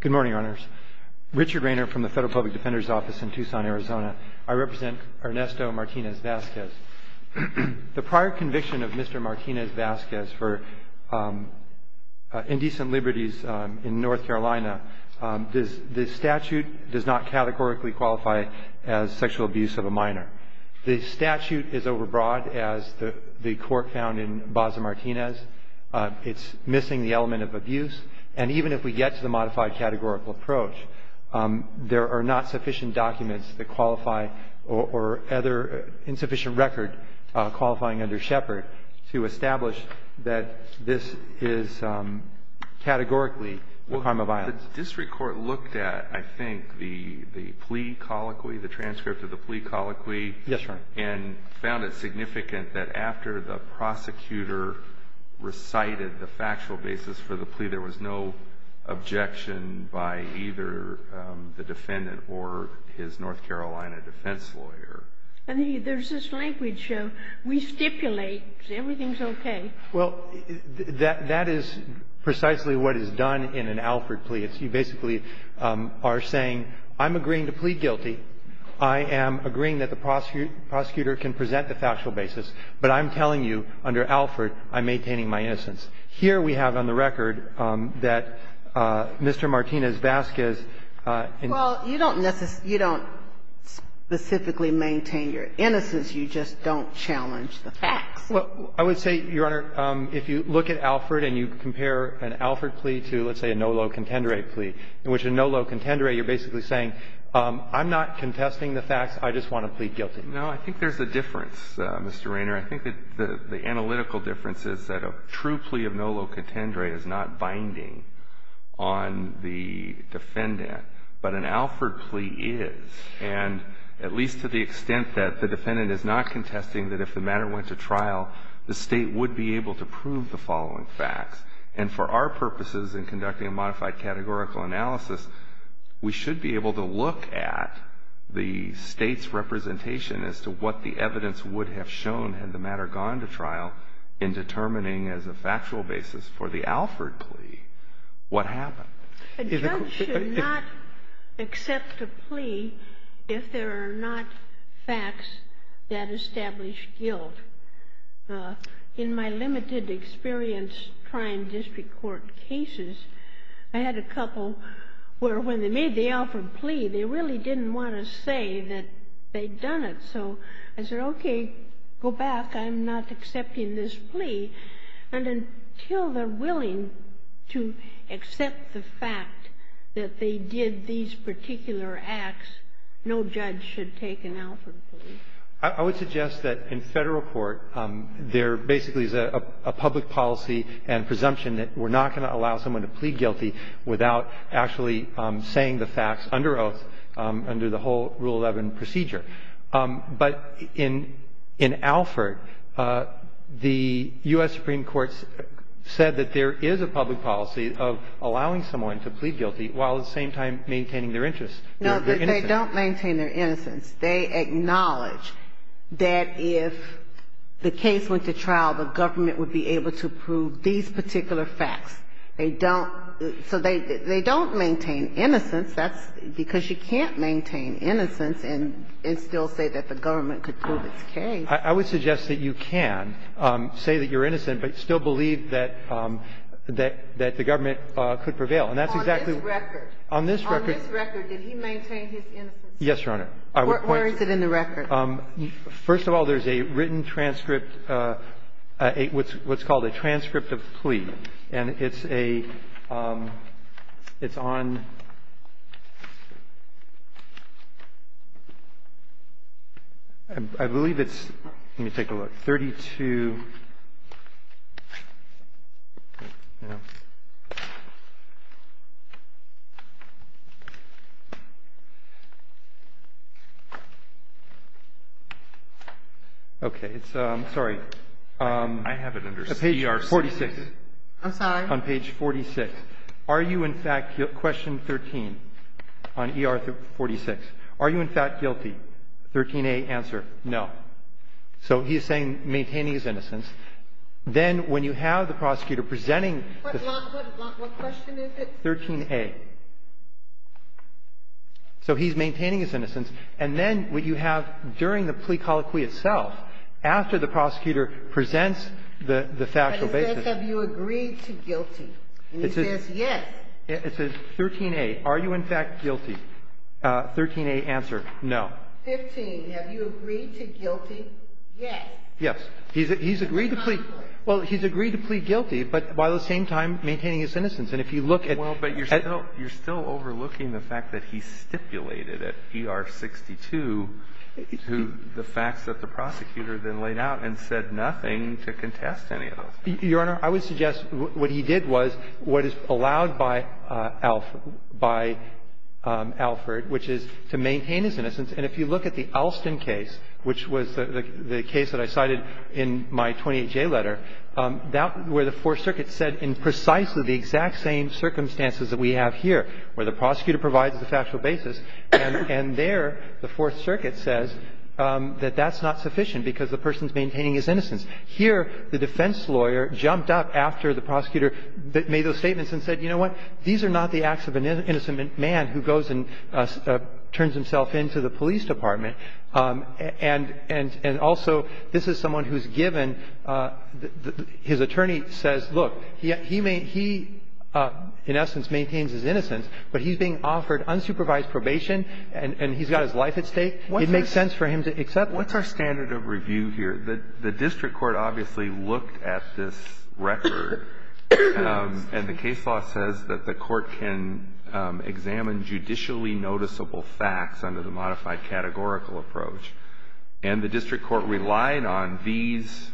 Good morning, Your Honors. Richard Raynor from the Federal Public Defender's Office in Tucson, Arizona. I represent Ernesto Martinez-Vazquez. The prior conviction of Mr. Martinez-Vazquez for indecent liberties in North Carolina, the statute does not categorically qualify as sexual abuse of a minor. The statute is overbroad, as the court found in Baza Martinez. It's missing the element of abuse. And even if we get to the modified categorical approach, there are not sufficient documents that qualify or other insufficient record qualifying under Shepard to establish that this is categorically a crime of violence. The district court looked at, I think, the plea colloquy, the transcript of the plea colloquy. Yes, Your Honor. And found it significant that after the prosecutor recited the factual basis for the plea, there was no objection by either the defendant or his North Carolina defense lawyer. And there's this language, we stipulate, everything's okay. Well, that is precisely what is done in an Alford plea. It's you basically are saying, I'm agreeing to plead guilty. I am agreeing that the prosecutor can present the factual basis, but I'm telling you, under Alford, I'm maintaining my innocence. Here we have on the record that Mr. Martinez-Vazquez. Well, you don't necessarily you don't specifically maintain your innocence. You just don't challenge the facts. Well, I would say, Your Honor, if you look at Alford and you compare an Alford plea to, let's say, a NOLO-Contendere plea, in which a NOLO-Contendere, you're basically saying, I'm not contesting the facts, I just want to plead guilty. No, I think there's a difference, Mr. Raynor. I think that the analytical difference is that a true plea of NOLO-Contendere is not binding on the defendant, but an Alford plea is. And at least to the extent that the defendant is not contesting that if the matter went to trial, the State would be able to prove the following facts. And for our purposes in conducting a modified categorical analysis, we should be able to look at the State's representation as to what the evidence would have shown had the matter gone to trial in determining as a factual basis for the Alford plea what happened. A judge should not accept a plea if there are not facts that establish guilt. In my limited experience trying district court cases, I had a couple where when they made the Alford plea, they really didn't want to say that they'd done it. So I said, okay, go back. I'm not accepting this plea. And until they're willing to accept the fact that they did these particular acts, no judge should take an Alford plea. I would suggest that in Federal court, there basically is a public policy and presumption that we're not going to allow someone to plead guilty without actually saying the facts under oath under the whole Rule 11 procedure. But in Alford, the U.S. Supreme Court said that there is a public policy of allowing someone to plead guilty while at the same time maintaining their interest. They're innocent. They don't maintain their innocence. They acknowledge that if the case went to trial, the government would be able to prove these particular facts. They don't. So they don't maintain innocence. That's because you can't maintain innocence and still say that the government could prove its case. I would suggest that you can say that you're innocent but still believe that the government could prevail. And that's exactly the record. On this record. On this record, did he maintain his innocence? Yes, Your Honor. Where is it in the record? First of all, there's a written transcript, what's called a transcript of the plea. And it's a, it's on, I believe it's, let me take a look, 32, okay, it's, sorry. I have it under CRC. On page 46. I'm sorry. On page 46. Are you in fact, question 13, on ER 46. Are you in fact guilty? 13A, answer, no. So he's saying, maintaining his innocence. Then when you have the prosecutor presenting. What question is it? 13A. So he's maintaining his innocence. And then what you have during the plea colloquy itself, after the prosecutor presents the factual basis. But it says, have you agreed to guilty? And he says, yes. It says, 13A, are you in fact guilty? 13A, answer, no. 15, have you agreed to guilty? Yes. Yes. He's agreed to plea. Well, he's agreed to plea guilty, but by the same time, maintaining his innocence. And if you look at. Well, but you're still, you're still overlooking the fact that he stipulated at ER 62, who the facts that the prosecutor then laid out and said nothing to contest any of those. Your Honor, I would suggest what he did was what is allowed by ALF, by Alford, which is to maintain his innocence. And if you look at the Alston case, which was the case that I cited in my 28J letter, that where the Fourth Circuit said in precisely the exact same circumstances that we have here, where the prosecutor provides the factual basis, and there the Fourth Circuit says that that's not sufficient because the person's maintaining his innocence. Here, the defense lawyer jumped up after the prosecutor made those statements and said, you know what, these are not the acts of an innocent man who goes and turns himself in to the police department. And also, this is someone who's given, his attorney says, look, he in essence maintains his innocence, but he's being offered unsupervised probation and he's got his life at stake. It makes sense for him to accept it. What's our standard of review here? The district court obviously looked at this record, and the case law says that the court can examine judicially noticeable facts under the modified categorical approach. And the district court relied on these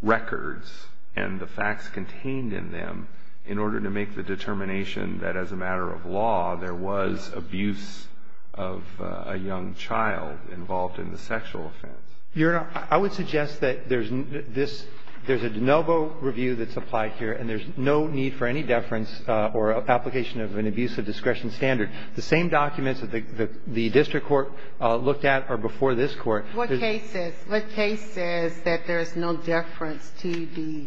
records and the facts contained in them in order to make the determination that as a matter of law, there was abuse of a young child involved in the sexual offense. Your Honor, I would suggest that there's this, there's a de novo review that's applied here, and there's no need for any deference or application of an abusive discretion standard. The same documents that the district court looked at are before this Court. What case says, what case says that there's no deference to the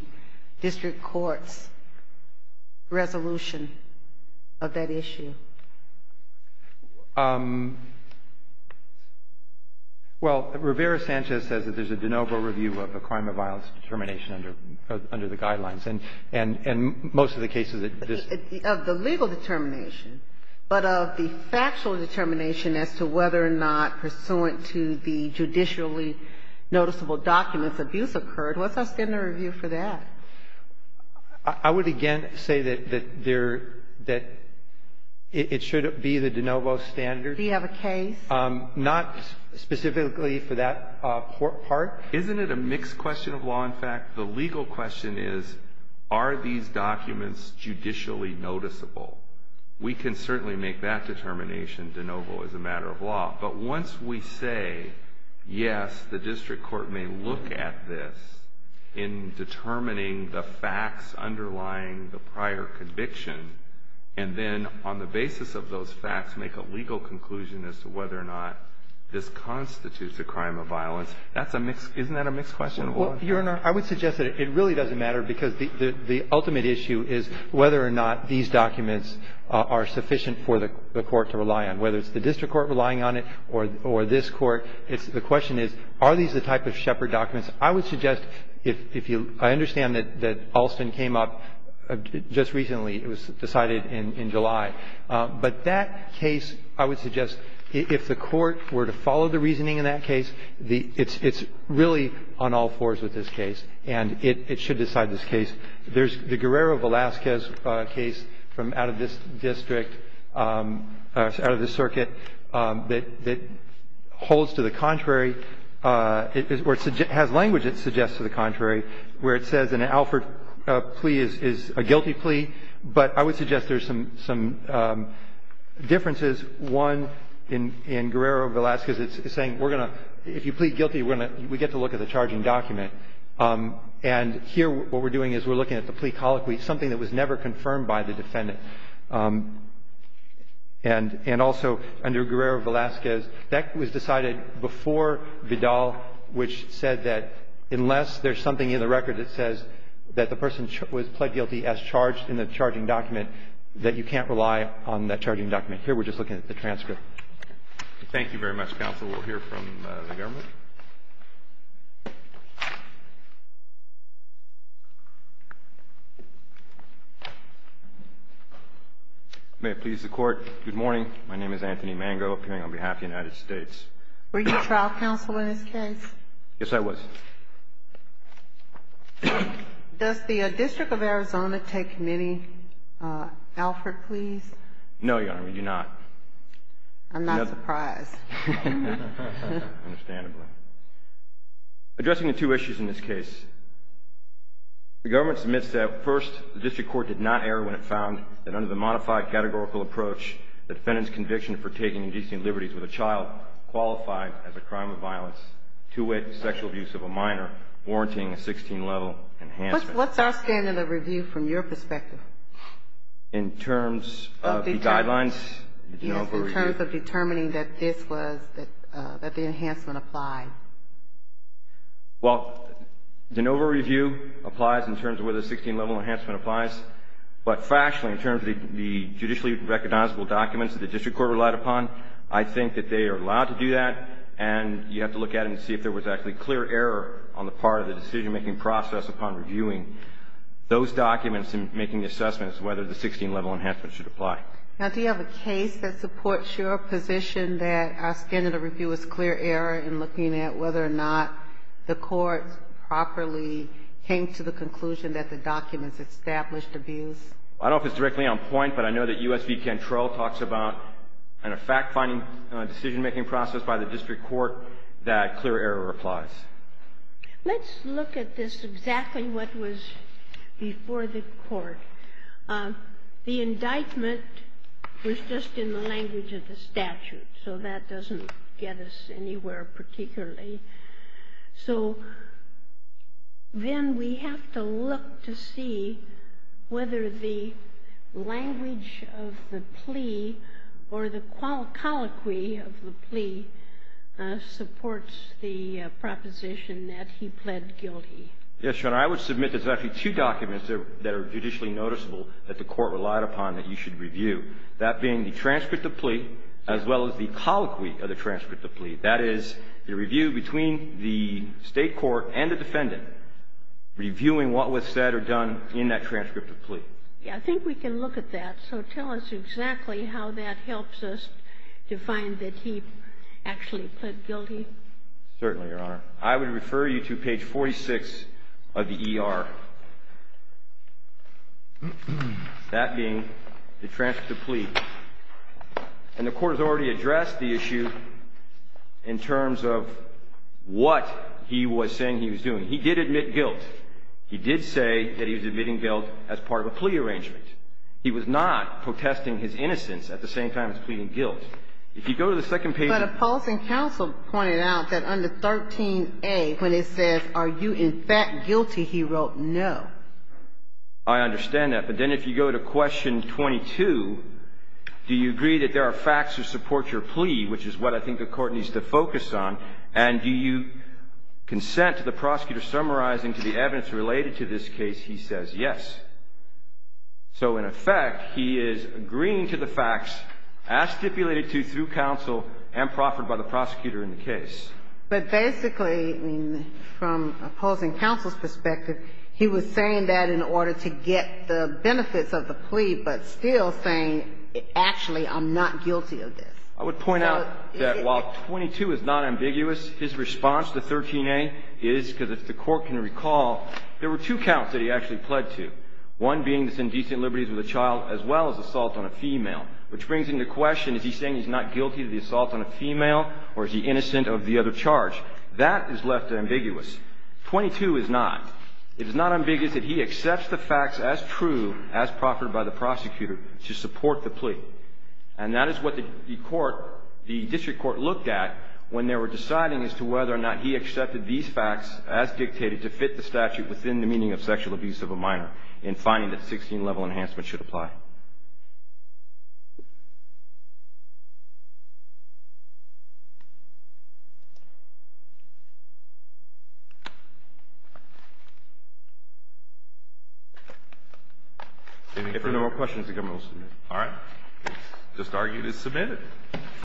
district court's resolution of that issue? Well, Rivera-Sanchez says that there's a de novo review of a crime of violence determination under the guidelines. And most of the cases that this ---- Of the legal determination, but of the factual determination as to whether or not pursuant to the judicially noticeable documents, abuse occurred. What's our standard of review for that? I would again say that there, that it should be the de novo standard. Do you have a case? Not specifically for that part. Isn't it a mixed question of law? In fact, the legal question is, are these documents judicially noticeable? We can certainly make that determination de novo as a matter of law. But once we say, yes, the district court may look at this in determining the facts underlying the prior conviction, and then on the basis of those facts make a legal conclusion as to whether or not this constitutes a crime of violence, that's a mixed ---- isn't that a mixed question of law? Well, Your Honor, I would suggest that it really doesn't matter because the ultimate issue is whether or not these documents are sufficient for the court to rely on. Whether it's the district court relying on it or this court, the question is, are these the type of shepherd documents? I would suggest if you ---- I understand that Alston came up just recently. It was decided in July. But that case, I would suggest, if the court were to follow the reasoning in that case, it's really on all fours with this case, and it should decide this case. There's the Guerrero-Velasquez case from out of this district, out of this circuit, that holds to the contrary, or it has language that suggests to the contrary, where it says an Alford plea is a guilty plea. But I would suggest there's some differences. One, in Guerrero-Velasquez, it's saying we're going to ---- if you plead guilty, we get to look at the charging document. And here, what we're doing is we're looking at the plea colloquy, something that was never confirmed by the defendant. And also under Guerrero-Velasquez, that was decided before Vidal, which said that unless there's something in the record that says that the person was pled guilty as charged in the charging document, that you can't rely on that charging document. Here we're just looking at the transcript. Thank you very much, counsel. We'll hear from the government. May it please the Court, good morning. My name is Anthony Mango, appearing on behalf of the United States. Were you trial counsel in this case? Yes, I was. Does the District of Arizona take many Alford pleas? No, Your Honor, we do not. I'm not surprised. Understandably. Addressing the two issues in this case, the government submits that, first, the district court did not err when it found that under the modified categorical approach, the defendant's conviction for taking indecent liberties with a child qualified as a crime of violence, two-way sexual abuse of a minor, warranting a 16-level enhancement. What's our standard of review from your perspective? In terms of the guidelines? Yes, in terms of determining that this was, that the enhancement applied. Well, the NOVA review applies in terms of whether the 16-level enhancement applies, but factually, in terms of the judicially recognizable documents that the district court relied upon, I think that they are allowed to do that, and you have to look at it and see if there was actually clear error on the part of the decision-making process upon reviewing those documents and making the assessments whether the 16-level enhancement should apply. Now, do you have a case that supports your position that our standard of review was clear error in looking at whether or not the court properly came to the conclusion that the documents established abuse? I don't know if it's directly on point, but I know that U.S. V. Control talks about in a fact-finding decision-making process by the district court that clear error applies. Let's look at this exactly what was before the court. The indictment was just in the language of the statute, so that doesn't get us anywhere particularly. So then we have to look to see whether the language of the plea or the transcript of plea is correct. I think we can look at that, so tell us exactly how that helps us to find that he actually pled guilty. Certainly, Your Honor. I would submit that there's actually two documents that are judicially noticeable that the court relied upon that you should review, that being the transcript of plea as well as the colloquy of the transcript of plea. That is the review between the state court and the defendant reviewing what was said or done in that transcript of plea. I think we can look at that. So tell us exactly how that helps us to find that he actually pled guilty. Certainly, Your Honor. I would refer you to page 46 of the ER, that being the transcript of plea. And the court has already addressed the issue in terms of what he was saying he was doing. He did admit guilt. He did say that he was admitting guilt as part of a plea arrangement. He was not protesting his innocence at the same time as pleading guilt. If you go to the second page of the ER. But a policy counsel pointed out that under 13a, when it says, are you in fact guilty, he wrote no. I understand that. But then if you go to question 22, do you agree that there are facts that support your plea, which is what I think the court needs to focus on, and do you consent to the prosecutor summarizing to the evidence related to this case he says yes. So in effect, he is agreeing to the facts as stipulated to through counsel and proffered by the prosecutor in the case. But basically, from opposing counsel's perspective, he was saying that in order to get the benefits of the plea, but still saying, actually, I'm not guilty of this. I would point out that while 22 is not ambiguous, his response to 13a is, because if the court can recall, there were two counts that he actually pled to. One being this indecent liberties with a child, as well as assault on a female, which brings into question, is he saying he's not guilty of the assault on a female, or is he innocent of the other charge? That is left ambiguous. 22 is not. It is not ambiguous that he accepts the facts as true, as proffered by the prosecutor, to support the plea. And that is what the court, the district court, looked at when they were deciding as to whether or not he accepted these facts as dictated to fit the statute within the meaning of sexual abuse of a minor in finding that 16-level enhancement should apply. If there are no more questions, the government will submit. All right. This argument is submitted.